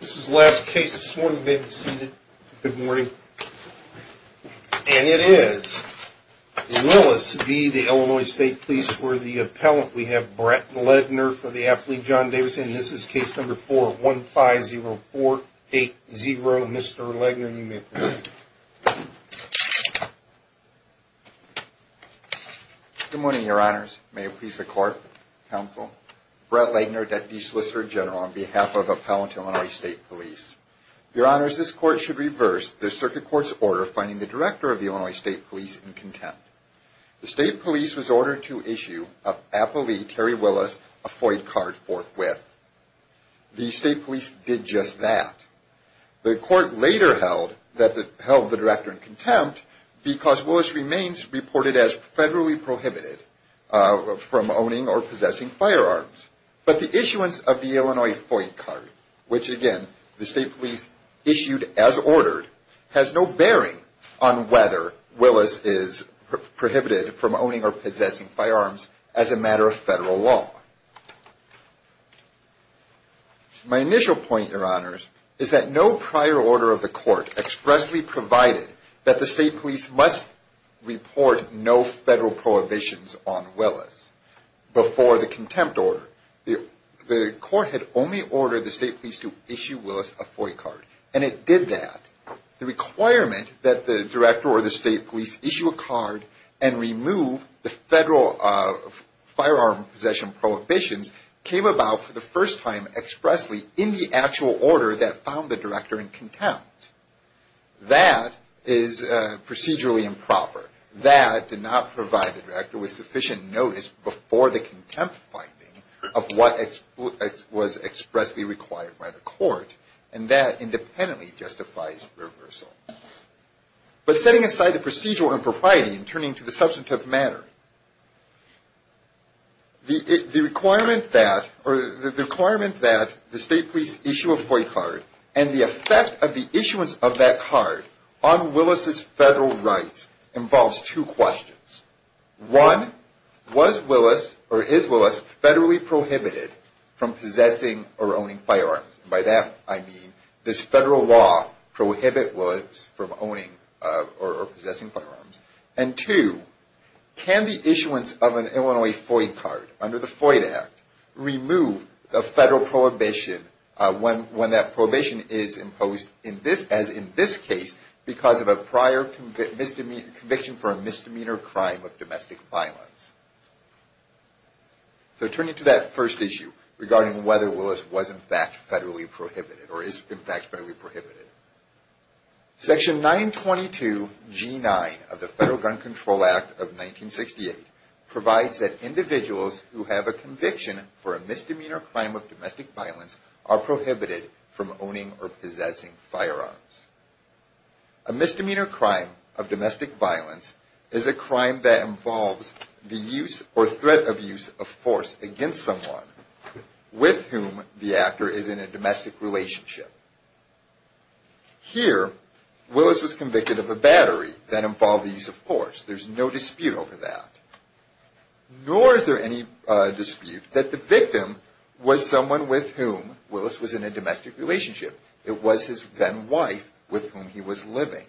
This is the last case this morning. You may be seated. Good morning. And it is Willis v. Illinois State Police for the appellant. We have Brett Legner for the affiliate, John Davison. This is case number 4-150-480. Mr. Legner, you may proceed. Good morning, your honors. May it please the court, counsel. Brett Legner, Deputy Solicitor General on behalf of Appellant Illinois State Police. Your honors, this court should reverse the circuit court's order finding the director of the Illinois State Police in contempt. The state police was ordered to issue an appellee, Terry Willis, a FOID card forthwith. The state police did just that. The court later held the director in contempt because Willis remains reported as federally prohibited from owning or possessing firearms. But the issuance of the Illinois FOID card, which again, the state police issued as ordered, has no bearing on whether Willis is prohibited from owning or possessing firearms as a matter of federal law. My initial point, your honors, is that no prior order of the court expressly provided that the state police must report no federal prohibitions on Willis before the contempt order. The court had only ordered the state police to issue Willis a FOID card, and it did that. The requirement that the director or the state police issue a card and remove the federal firearm possession prohibitions came about for the first time expressly in the actual order that found the director in contempt. That is procedurally improper. That did not provide the director with sufficient notice before the contempt finding of what was expressly required by the court. And that independently justifies reversal. But setting aside the procedural impropriety and turning to the substantive matter, the requirement that the state police issue a FOID card and the effect of the issuance of that card on Willis' federal rights involves two questions. One, was Willis or is Willis federally prohibited from possessing or owning firearms? And by that I mean, does federal law prohibit Willis from owning or possessing firearms? And two, can the issuance of an Illinois FOID card under the FOID Act remove the federal prohibition when that prohibition is imposed as in this case because of a prior conviction for a misdemeanor crime of domestic violence? So turning to that first issue regarding whether Willis was in fact federally prohibited or is in fact federally prohibited. Section 922G9 of the Federal Gun Control Act of 1968 provides that individuals who have a conviction for a misdemeanor crime of domestic violence are prohibited from owning or possessing firearms. A misdemeanor crime of domestic violence is a crime that involves the use or threat of use of force against someone with whom the actor is in a domestic relationship. Here, Willis was convicted of a battery that involved the use of force. There's no dispute over that. Nor is there any dispute that the victim was someone with whom Willis was in a domestic relationship. It was his then wife with whom he was living.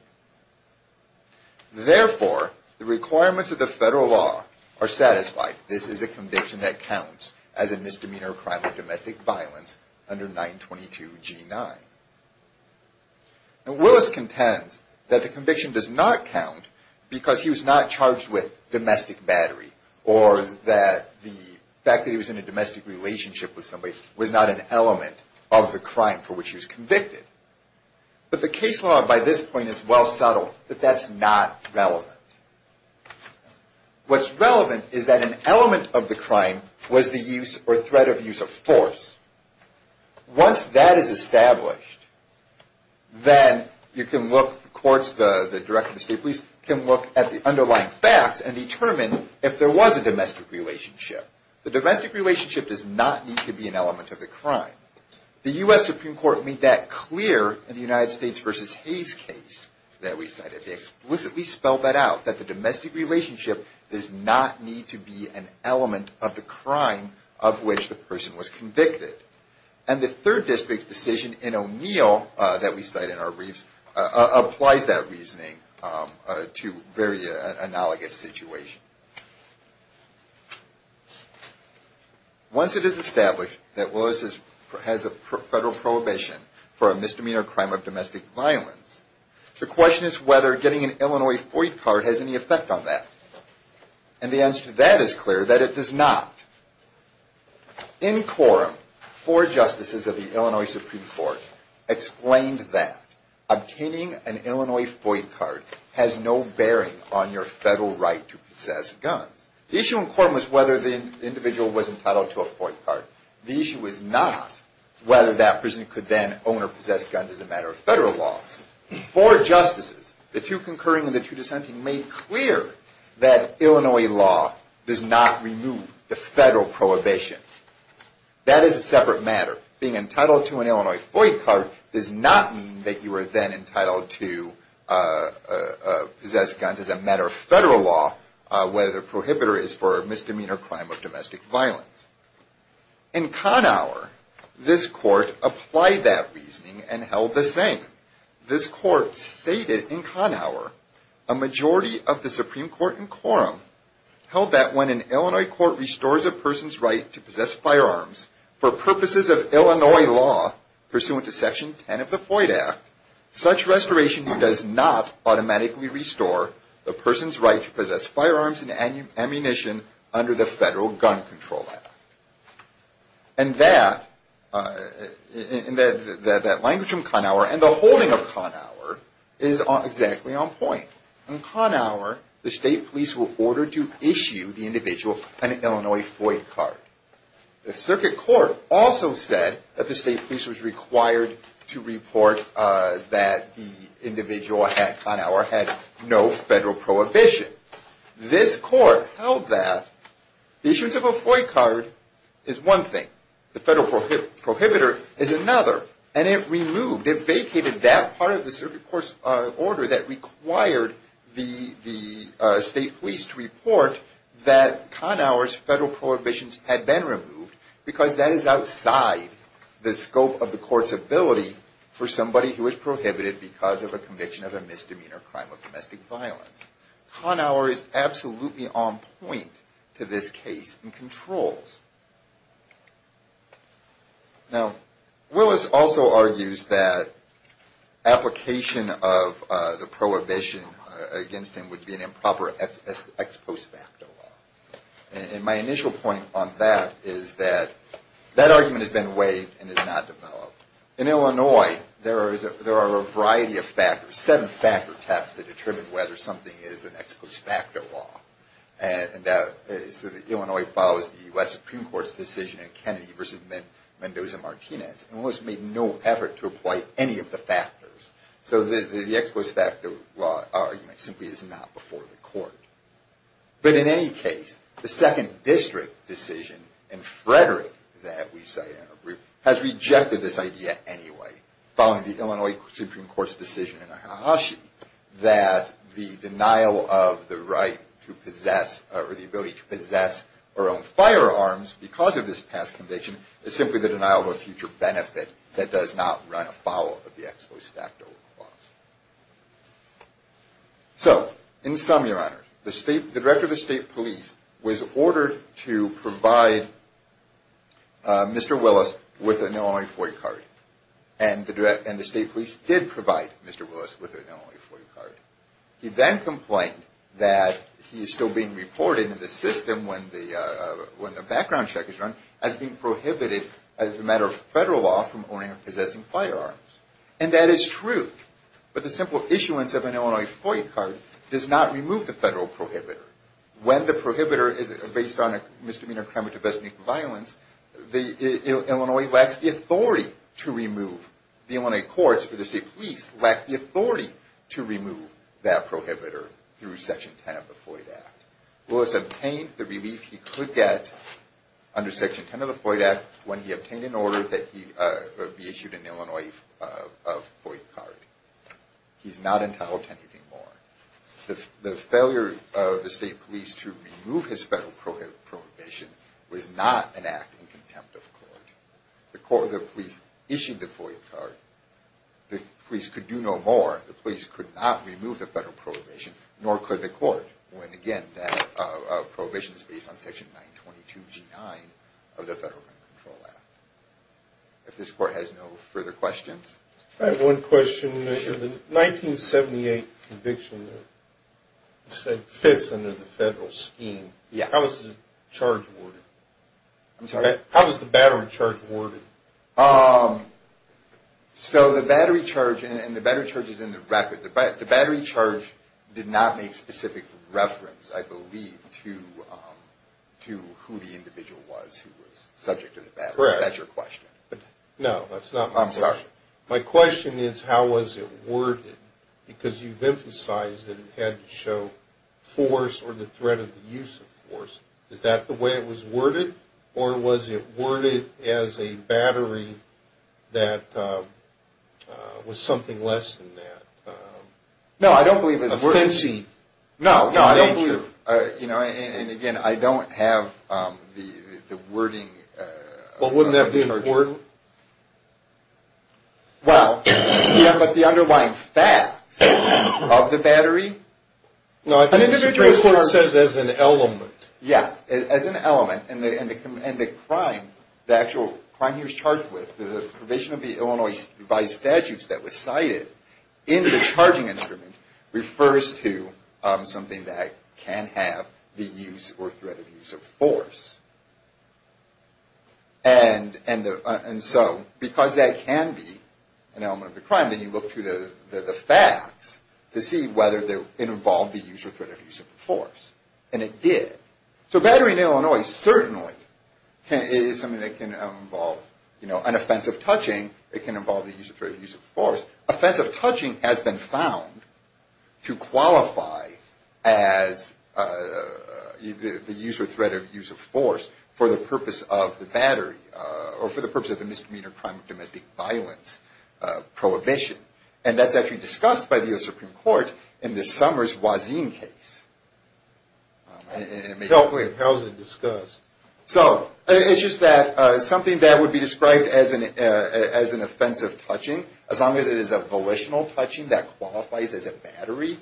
Therefore, the requirements of the federal law are satisfied. This is a conviction that counts as a misdemeanor crime of domestic violence under 922G9. Now, Willis contends that the conviction does not count because he was not charged with domestic battery or that the fact that he was in a domestic relationship with somebody was not an element of the crime for which he was convicted. But the case law by this point is well subtle that that's not relevant. What's relevant is that an element of the crime was the use or threat of use of force. Once that is established, then you can look, the courts, the Director of the State Police, can look at the underlying facts and determine if there was a domestic relationship. The domestic relationship does not need to be an element of the crime. The U.S. Supreme Court made that clear in the United States v. Hayes case that we cited. They explicitly spelled that out, that the domestic relationship does not need to be an element of the crime of which the person was convicted. And the Third District's decision in O'Neill that we cite in our briefs applies that reasoning to very analogous situations. Once it is established that Willis has a federal prohibition for a misdemeanor crime of domestic violence, the question is whether getting an Illinois FOID card has any effect on that. And the answer to that is clear, that it does not. In quorum, four justices of the Illinois Supreme Court explained that obtaining an Illinois FOID card has no bearing on your federal right to possess guns. The issue in quorum was whether the individual was entitled to a FOID card. The issue is not whether that person could then own or possess guns as a matter of federal law. Four justices, the two concurring and the two dissenting, made clear that Illinois law does not remove the federal prohibition. That is a separate matter. Being entitled to an Illinois FOID card does not mean that you are then entitled to possess guns as a matter of federal law, whether the prohibitor is for a misdemeanor crime of domestic violence. In Kahnauer, this court applied that reasoning and held the same. This court stated in Kahnauer, a majority of the Supreme Court in quorum held that when an Illinois court restores a person's right to possess firearms for purposes of Illinois law pursuant to Section 10 of the FOID Act, such restoration does not automatically restore the person's right to possess firearms and ammunition under the Federal Gun Control Act. And that language from Kahnauer and the holding of Kahnauer is exactly on point. In Kahnauer, the state police were ordered to issue the individual an Illinois FOID card. The circuit court also said that the state police was required to report that the individual at Kahnauer had no federal prohibition. This court held that the issuance of a FOID card is one thing. The federal prohibitor is another. And it removed, it vacated that part of the circuit court's order that required the state police to report that Kahnauer's federal prohibitions had been removed because that is outside the scope of the court's ability for somebody who is prohibited because of a conviction of a misdemeanor crime of domestic violence. Kahnauer is absolutely on point to this case in controls. Now, Willis also argues that application of the prohibition against him would be an improper ex post facto law. And my initial point on that is that that argument has been waived and is not developed. In Illinois, there are a variety of factors, seven factor tests to determine whether something is an ex post facto law. And Illinois follows the U.S. Supreme Court's decision in Kennedy versus Mendoza-Martinez. And Willis made no effort to apply any of the factors. So the ex post facto argument simply is not before the court. But in any case, the second district decision in Frederick that we cited in our brief has rejected this idea anyway, following the Illinois Supreme Court's decision in Ahashi, that the denial of the right to possess or the ability to possess our own firearms because of this past conviction is simply the denial of a future benefit that does not run afoul of the ex post facto clause. So in sum, Your Honor, the director of the state police was ordered to provide Mr. Willis with an Illinois FOIA card. And the state police did provide Mr. Willis with an Illinois FOIA card. He then complained that he is still being reported in the system when the background check is run as being prohibited as a matter of federal law from owning or possessing firearms. And that is true. But the simple issuance of an Illinois FOIA card does not remove the federal prohibitor. When the prohibitor is based on a misdemeanor, crime, or domestic violence, Illinois lacks the authority to remove. The Illinois courts or the state police lack the authority to remove that prohibitor through Section 10 of the FOIA Act. Willis obtained the relief he could get under Section 10 of the FOIA Act when he obtained an order that he be issued an Illinois FOIA card. He is not entitled to anything more. The failure of the state police to remove his federal prohibition was not an act in contempt of court. The court or the police issued the FOIA card. The police could do no more. The police could not remove the federal prohibition, nor could the court. Again, that prohibition is based on Section 922G9 of the Federal Gun Control Act. If this court has no further questions. I have one question. The 1978 conviction that you said fits under the federal scheme, how was the charge awarded? I'm sorry, how was the battery charge awarded? So the battery charge, and the battery charge is in the record. The battery charge did not make specific reference, I believe, to who the individual was who was subject to the battery. Correct. Is that your question? No, that's not my question. I'm sorry. My question is how was it worded? Because you've emphasized that it had to show force or the threat of the use of force. Is that the way it was worded, or was it worded as a battery that was something less than that? No, I don't believe it was worded. A fencing in nature. No, I don't believe, and again, I don't have the wording. Well, wouldn't that be important? Well, yeah, but the underlying facts of the battery. No, I think the Supreme Court says as an element. Yes, as an element, and the crime, the actual crime he was charged with, the provision of the Illinois device statutes that was cited in the charging instrument, refers to something that can have the use or threat of use of force. And so because that can be an element of the crime, then you look through the facts to see whether it involved the use or threat of use of force. And it did. So a battery in Illinois certainly is something that can involve an offense of touching. It can involve the use or threat of use of force. Offense of touching has been found to qualify as the use or threat of use of force for the purpose of the battery or for the purpose of the misdemeanor crime of domestic violence prohibition. And that's actually discussed by the U.S. Supreme Court in the Summers-Wazin case. Helpfully impulsively discussed. So it's just that something that would be described as an offensive touching, as long as it is a volitional touching that qualifies as a battery,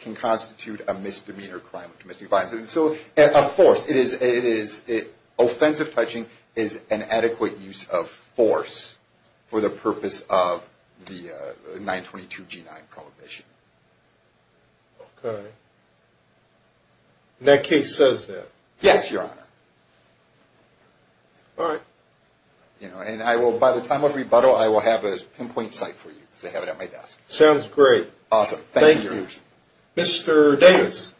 can constitute a misdemeanor crime of domestic violence. Offensive touching is an adequate use of force for the purpose of the 922-G9 prohibition. Okay. And that case says that? Yes, Your Honor. All right. And by the time of rebuttal, I will have a pinpoint site for you. I have it at my desk. Sounds great. Awesome. Thank you. Mr. Davis.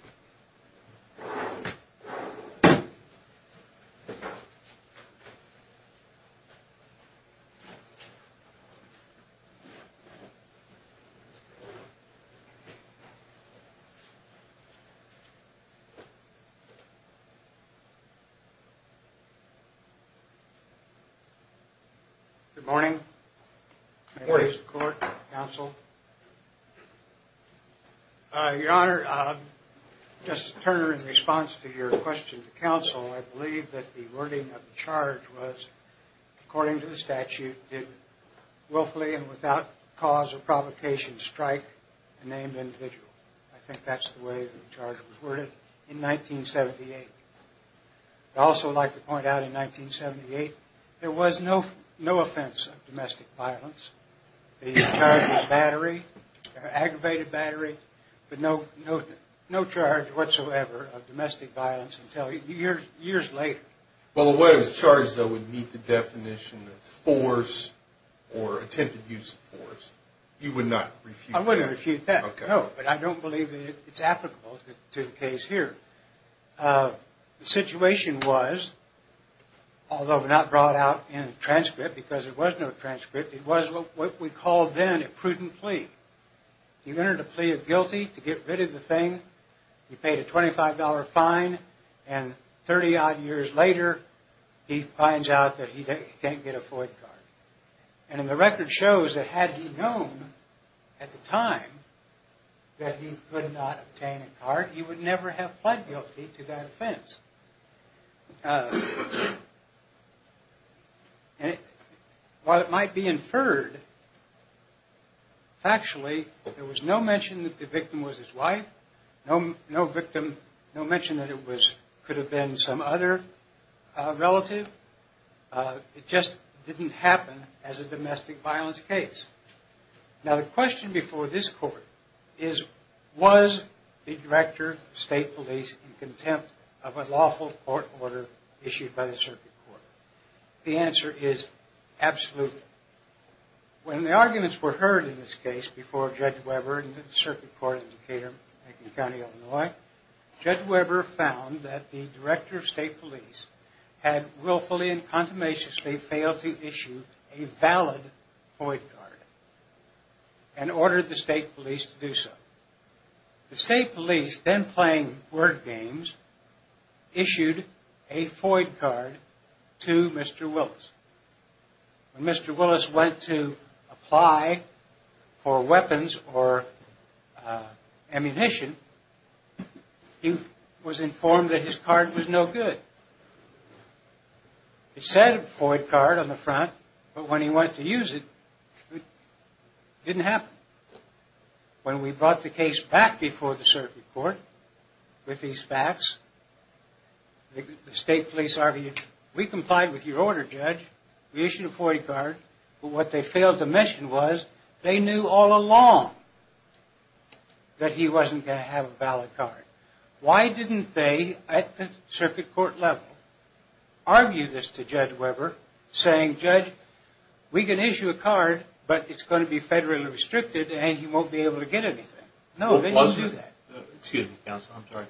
Good morning. Good morning. Mr. Davis, the court, counsel. Your Honor, just to turn in response to your question to counsel, I believe that the wording of the charge was, according to the statute, did willfully and without cause of provocation strike a named individual. I think that's the way the charge was worded in 1978. I'd also like to point out in 1978, there was no offense of domestic violence. The charge was battery, aggravated battery, but no charge whatsoever of domestic violence until years later. Well, the way it was charged, though, would meet the definition of force or attempted use of force. You would not refute that? I wouldn't refute that. Okay. No, but I don't believe that it's applicable to the case here. The situation was, although not brought out in a transcript, because there was no transcript, it was what we called then a prudent plea. He entered a plea of guilty to get rid of the thing. He paid a $25 fine, and 30-odd years later, he finds out that he can't get a FOIA card. And the record shows that had he known at the time that he could not obtain a card, he would never have pled guilty to that offense. While it might be inferred, factually, there was no mention that the victim was his wife, no mention that it could have been some other relative. It just didn't happen as a domestic violence case. Now, the question before this court is, was the Director of State Police in contempt of a lawful court order issued by the Circuit Court? The answer is, absolutely. When the arguments were heard in this case before Judge Weber and the Circuit Court in Decatur County, Illinois, Judge Weber found that the Director of State Police had willfully and consummationly failed to issue a valid FOIA card and ordered the State Police to do so. The State Police, then playing word games, issued a FOIA card to Mr. Willis. When Mr. Willis went to apply for weapons or ammunition, he was informed that his card was no good. It said FOIA card on the front, but when he went to use it, it didn't happen. When we brought the case back before the Circuit Court with these facts, the State Police argued, we complied with your order, Judge. We issued a FOIA card. But what they failed to mention was, they knew all along that he wasn't going to have a valid card. Why didn't they, at the Circuit Court level, argue this to Judge Weber, saying, Judge, we can issue a card, but it's going to be federally restricted and he won't be able to get anything? No, they didn't do that. Excuse me, Counsel, I'm sorry.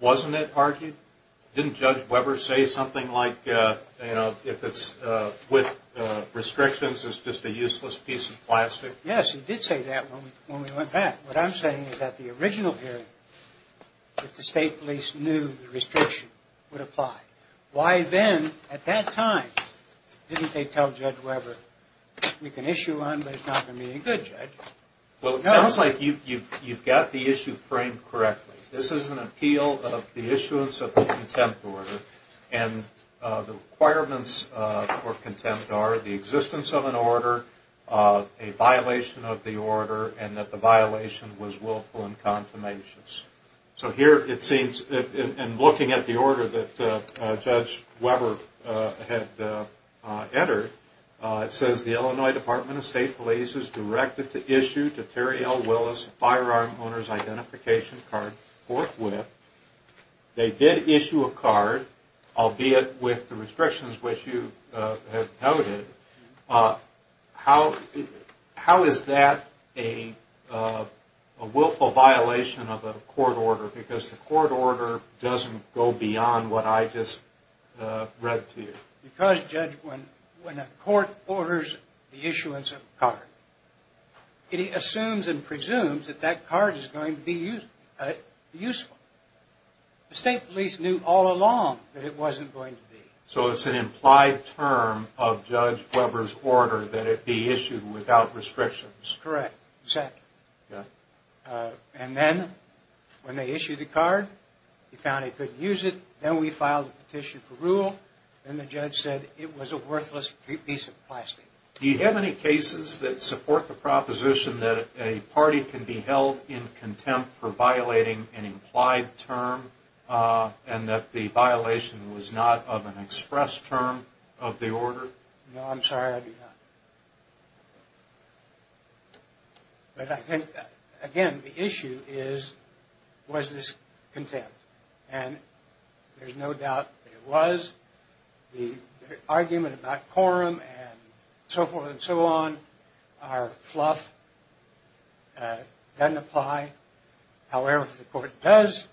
Wasn't it argued? Didn't Judge Weber say something like, if it's with restrictions, it's just a useless piece of plastic? Yes, he did say that when we went back. What I'm saying is that the original hearing, the State Police knew the restriction would apply. Why then, at that time, didn't they tell Judge Weber, we can issue one, but it's not going to be any good, Judge? Well, it sounds like you've got the issue framed correctly. This is an appeal of the issuance of the contempt order, and the requirements for contempt are the existence of an order, a violation of the order, and that the violation was willful and consummations. So here it seems, in looking at the order that Judge Weber had entered, it says, the Illinois Department of State Police is directed to issue to Terry L. Willis a firearm owner's identification card forthwith. They did issue a card, albeit with the restrictions which you have noted. How is that a willful violation of a court order? Because the court order doesn't go beyond what I just read to you. Because, Judge, when a court orders the issuance of a card, it assumes and presumes that that card is going to be useful. The State Police knew all along that it wasn't going to be. So it's an implied term of Judge Weber's order that it be issued without restrictions. Correct, exactly. And then, when they issued the card, he found he couldn't use it. Then we filed a petition for rule, and the judge said it was a worthless piece of plastic. Do you have any cases that support the proposition that a party can be held in contempt for violating an implied term, and that the violation was not of an express term of the order? No, I'm sorry, I do not. But I think, again, the issue is, was this contempt? And there's no doubt that it was. The argument about quorum and so forth and so on are fluff, doesn't apply. However, if the court does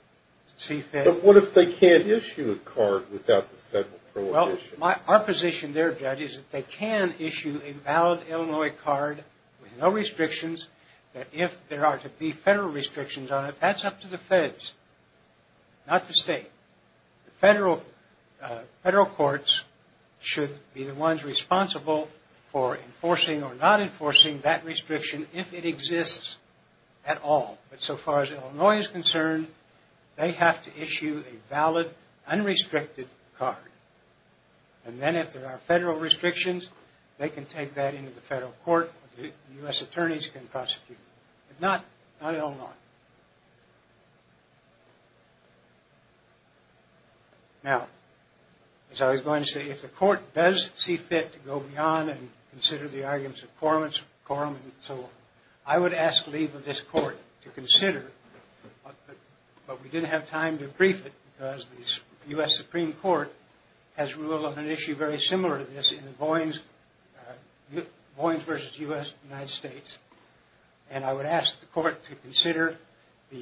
see fit. But what if they can't issue a card without the federal prohibition? Our position there, Judge, is that they can issue a valid Illinois card with no restrictions, that if there are to be federal restrictions on it, that's up to the feds, not the state. The federal courts should be the ones responsible for enforcing or not enforcing that restriction, if it exists at all. But so far as Illinois is concerned, they have to issue a valid, unrestricted card. And then if there are federal restrictions, they can take that into the federal court. U.S. attorneys can prosecute. But not Illinois. Now, as I was going to say, if the court does see fit to go beyond and consider the arguments of quorum and so forth, I would ask leave of this court to consider. But we didn't have time to brief it, because the U.S. Supreme Court has ruled on an issue very similar to this in Boynes v. U.S. United States. And I would ask the court to consider the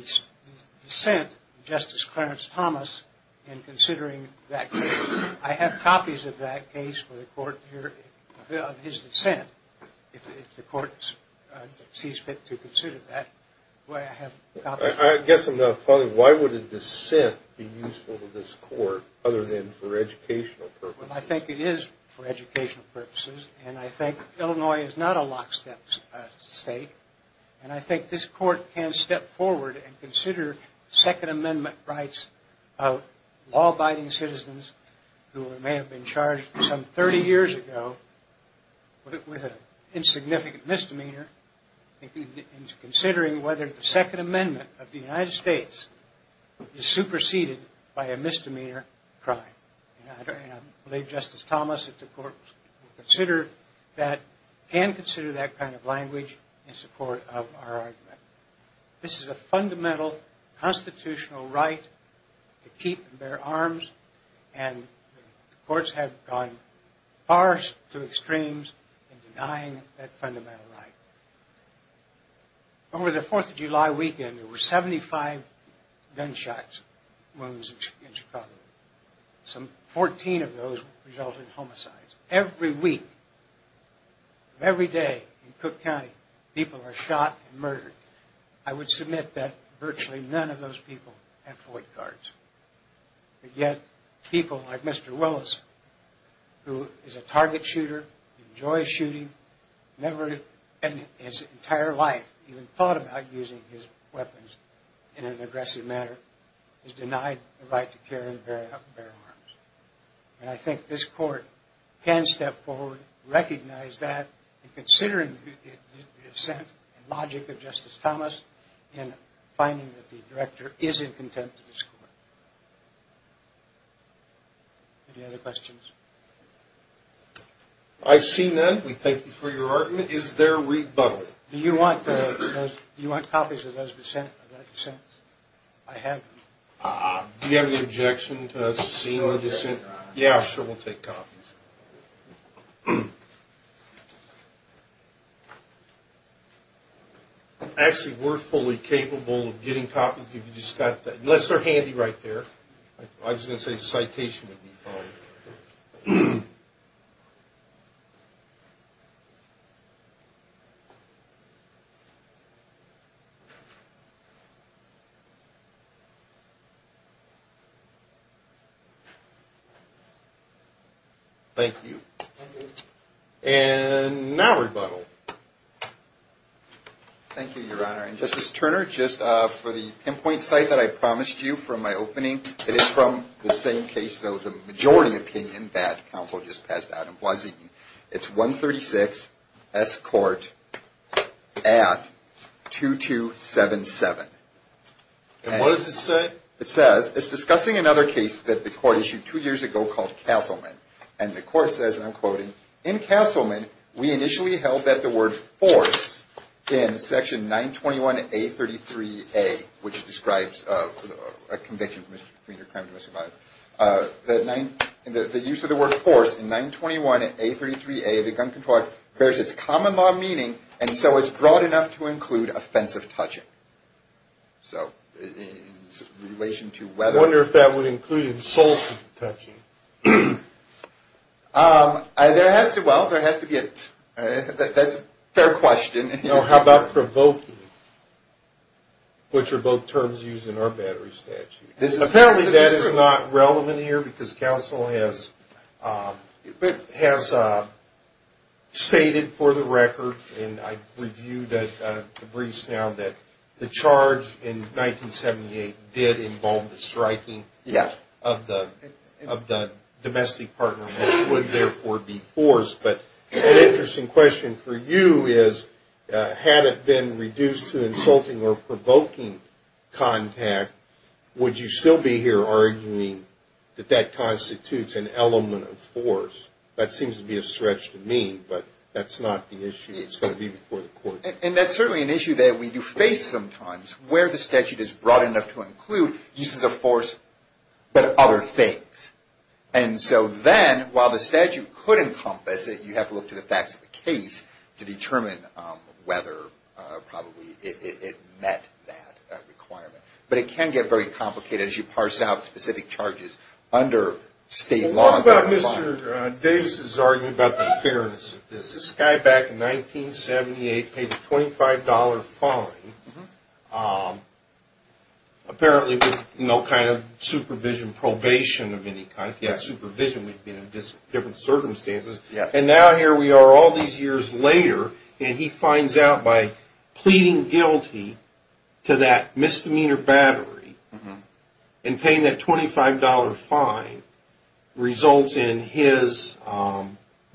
dissent of Justice Clarence Thomas in considering that case. I have copies of that case for the court here of his dissent, if the court sees fit to consider that. I guess I'm not following. Why would a dissent be useful to this court other than for educational purposes? I think it is for educational purposes. And I think Illinois is not a lockstep state. And I think this court can step forward and consider Second Amendment rights of law-abiding citizens who may have been charged some 30 years ago with an insignificant misdemeanor, and considering whether the Second Amendment of the United States is superseded by a misdemeanor crime. I believe Justice Thomas, if the court will consider that, can consider that kind of language in support of our argument. This is a fundamental constitutional right to keep and bear arms, and the courts have gone far to extremes in denying that fundamental right. Over the Fourth of July weekend, there were 75 gunshots, wounds in Chicago. Some 14 of those resulted in homicides. Every week, every day in Cook County, people are shot and murdered. I would submit that virtually none of those people have FOIA cards. But yet people like Mr. Willis, who is a target shooter, enjoys shooting, never in his entire life even thought about using his weapons in an aggressive manner, is denied the right to carry and bear arms. And I think this court can step forward, recognize that, and considering the dissent and logic of Justice Thomas in finding that the director is in contempt of this court. Any other questions? I see none. We thank you for your argument. Is there rebuttal? Do you want copies of those dissents? I have them. Do you have any objection to us seeing the dissent? Yeah, sure. We'll take copies. Actually, we're fully capable of getting copies if you just got that. Unless they're handy right there. I was going to say citation would be followed. Thank you. And now rebuttal. Thank you, Your Honor. And Justice Turner, just for the pinpoint site that I promised you from my opening, it is from the same case, though the majority opinion, that counsel just passed out. It's 136 S. Court at 2277. And what does it say? It says it's discussing another case that the court issued two years ago called Castleman. And the court says, and I'm quoting, In Castleman, we initially held that the word force in section 921A33A, which describes a conviction for misdemeanor crime to a survivor, the use of the word force in 921A33A of the gun control act bears its common law meaning and so is broad enough to include offensive touching. So in relation to whether or not. I wonder if that would include insulting touching. Well, there has to be a, that's a fair question. How about provoking, which are both terms used in our battery statute. Apparently that is not relevant here because counsel has stated for the record, and I review the briefs now, that the charge in 1978 did involve the striking of the domestic partner, which would therefore be force. But an interesting question for you is, had it been reduced to insulting or provoking contact, would you still be here arguing that that constitutes an element of force? That seems to be a stretch to me, but that's not the issue. It's going to be before the court. And that's certainly an issue that we do face sometimes, where the statute is broad enough to include uses of force but other things. And so then, while the statute could encompass it, you have to look to the facts of the case to determine whether probably it met that requirement. But it can get very complicated as you parse out specific charges under state law. How about Mr. Davis' argument about the fairness of this? This guy back in 1978 paid a $25 fine, apparently with no kind of supervision, probation of any kind. If he had supervision, we'd be in different circumstances. And now here we are all these years later, and he finds out by pleading guilty to that misdemeanor battery and paying that $25 fine results in his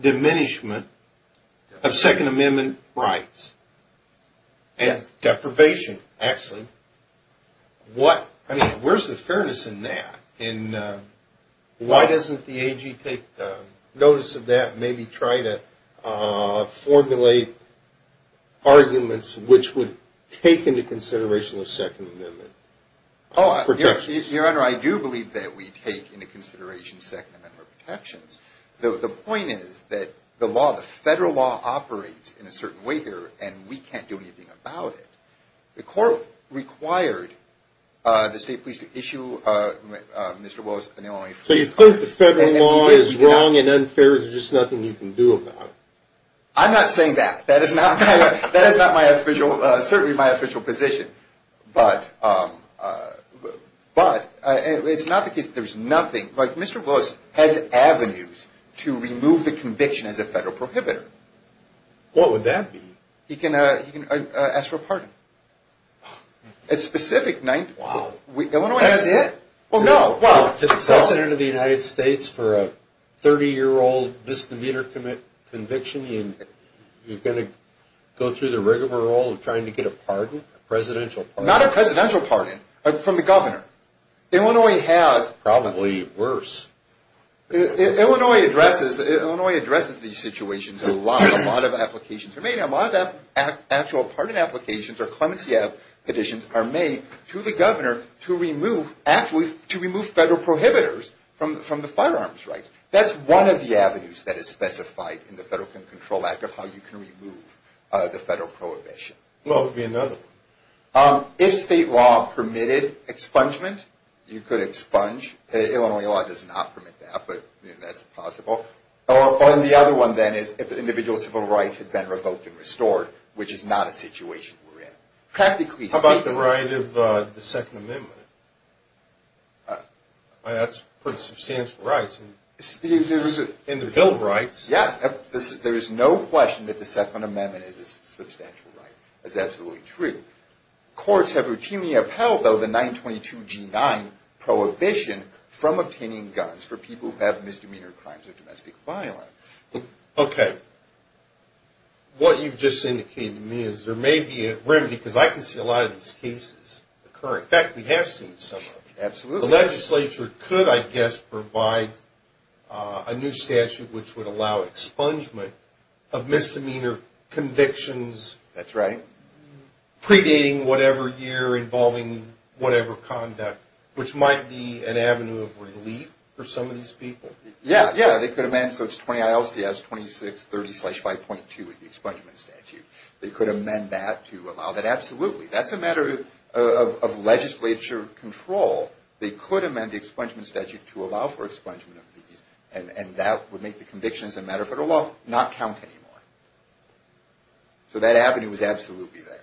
diminishment of Second Amendment rights and deprivation, actually. I mean, where's the fairness in that? And why doesn't the AG take notice of that and maybe try to formulate arguments which would take into consideration the Second Amendment protections? Oh, Your Honor, I do believe that we take into consideration Second Amendment protections. The point is that the law, the federal law, operates in a certain way here, and we can't do anything about it. The court required the state police to issue Mr. Wells an LMA-free card. Even if the federal law is wrong and unfair, there's just nothing you can do about it. I'm not saying that. That is not my official position. But it's not the case that there's nothing. Mr. Wells has avenues to remove the conviction as a federal prohibitor. What would that be? He can ask for a pardon. Wow. That's it? Well, no. Well, to the President of the United States, for a 30-year-old misdemeanor conviction, you're going to go through the rigmarole of trying to get a pardon, a presidential pardon? Not a presidential pardon, but from the governor. Illinois has probably worse. Illinois addresses these situations a lot. A lot of applications are made. A lot of actual pardon applications or clemency petitions are made to the governor to remove federal prohibitors from the firearms rights. That's one of the avenues that is specified in the Federal Control Act of how you can remove the federal prohibition. Well, there could be another. If state law permitted expungement, you could expunge. Illinois law does not permit that, but that's possible. And the other one, then, is if an individual's civil rights have been revoked and restored, which is not a situation we're in. How about the right of the Second Amendment? That's pretty substantial rights. In the Bill of Rights. Yes. There is no question that the Second Amendment is a substantial right. That's absolutely true. Courts have routinely upheld, though, the 922G9 prohibition from obtaining guns for people who have misdemeanor crimes of domestic violence. Okay. What you've just indicated to me is there may be a remedy, because I can see a lot of these cases occurring. In fact, we have seen some of them. Absolutely. The legislature could, I guess, provide a new statute which would allow expungement of misdemeanor convictions. That's right. Predating whatever year involving whatever conduct, which might be an avenue of relief for some of these people. Yeah, yeah. They could amend. So it's 20 ILCS 2630-5.2 is the expungement statute. They could amend that to allow that. Absolutely. That's a matter of legislature control. They could amend the expungement statute to allow for expungement of these, and that would make the convictions in matter of federal law not count anymore. So that avenue is absolutely there.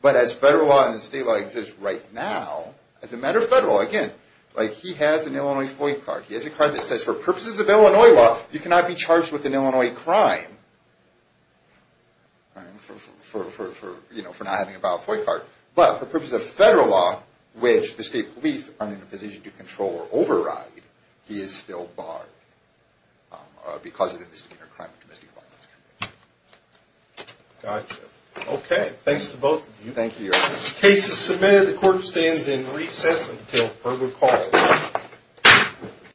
But as federal law and state law exist right now, as a matter of federal law, again, like he has an Illinois FOIA card. He has a card that says for purposes of Illinois law, you cannot be charged with an Illinois crime for not having a valid FOIA card. But for purposes of federal law, which the state police aren't in a position to control or override, he is still barred because of the misdemeanor crime of domestic violence conviction. Gotcha. Okay. Thanks to both of you. Thank you. Case is submitted. The court stands in recess until further call.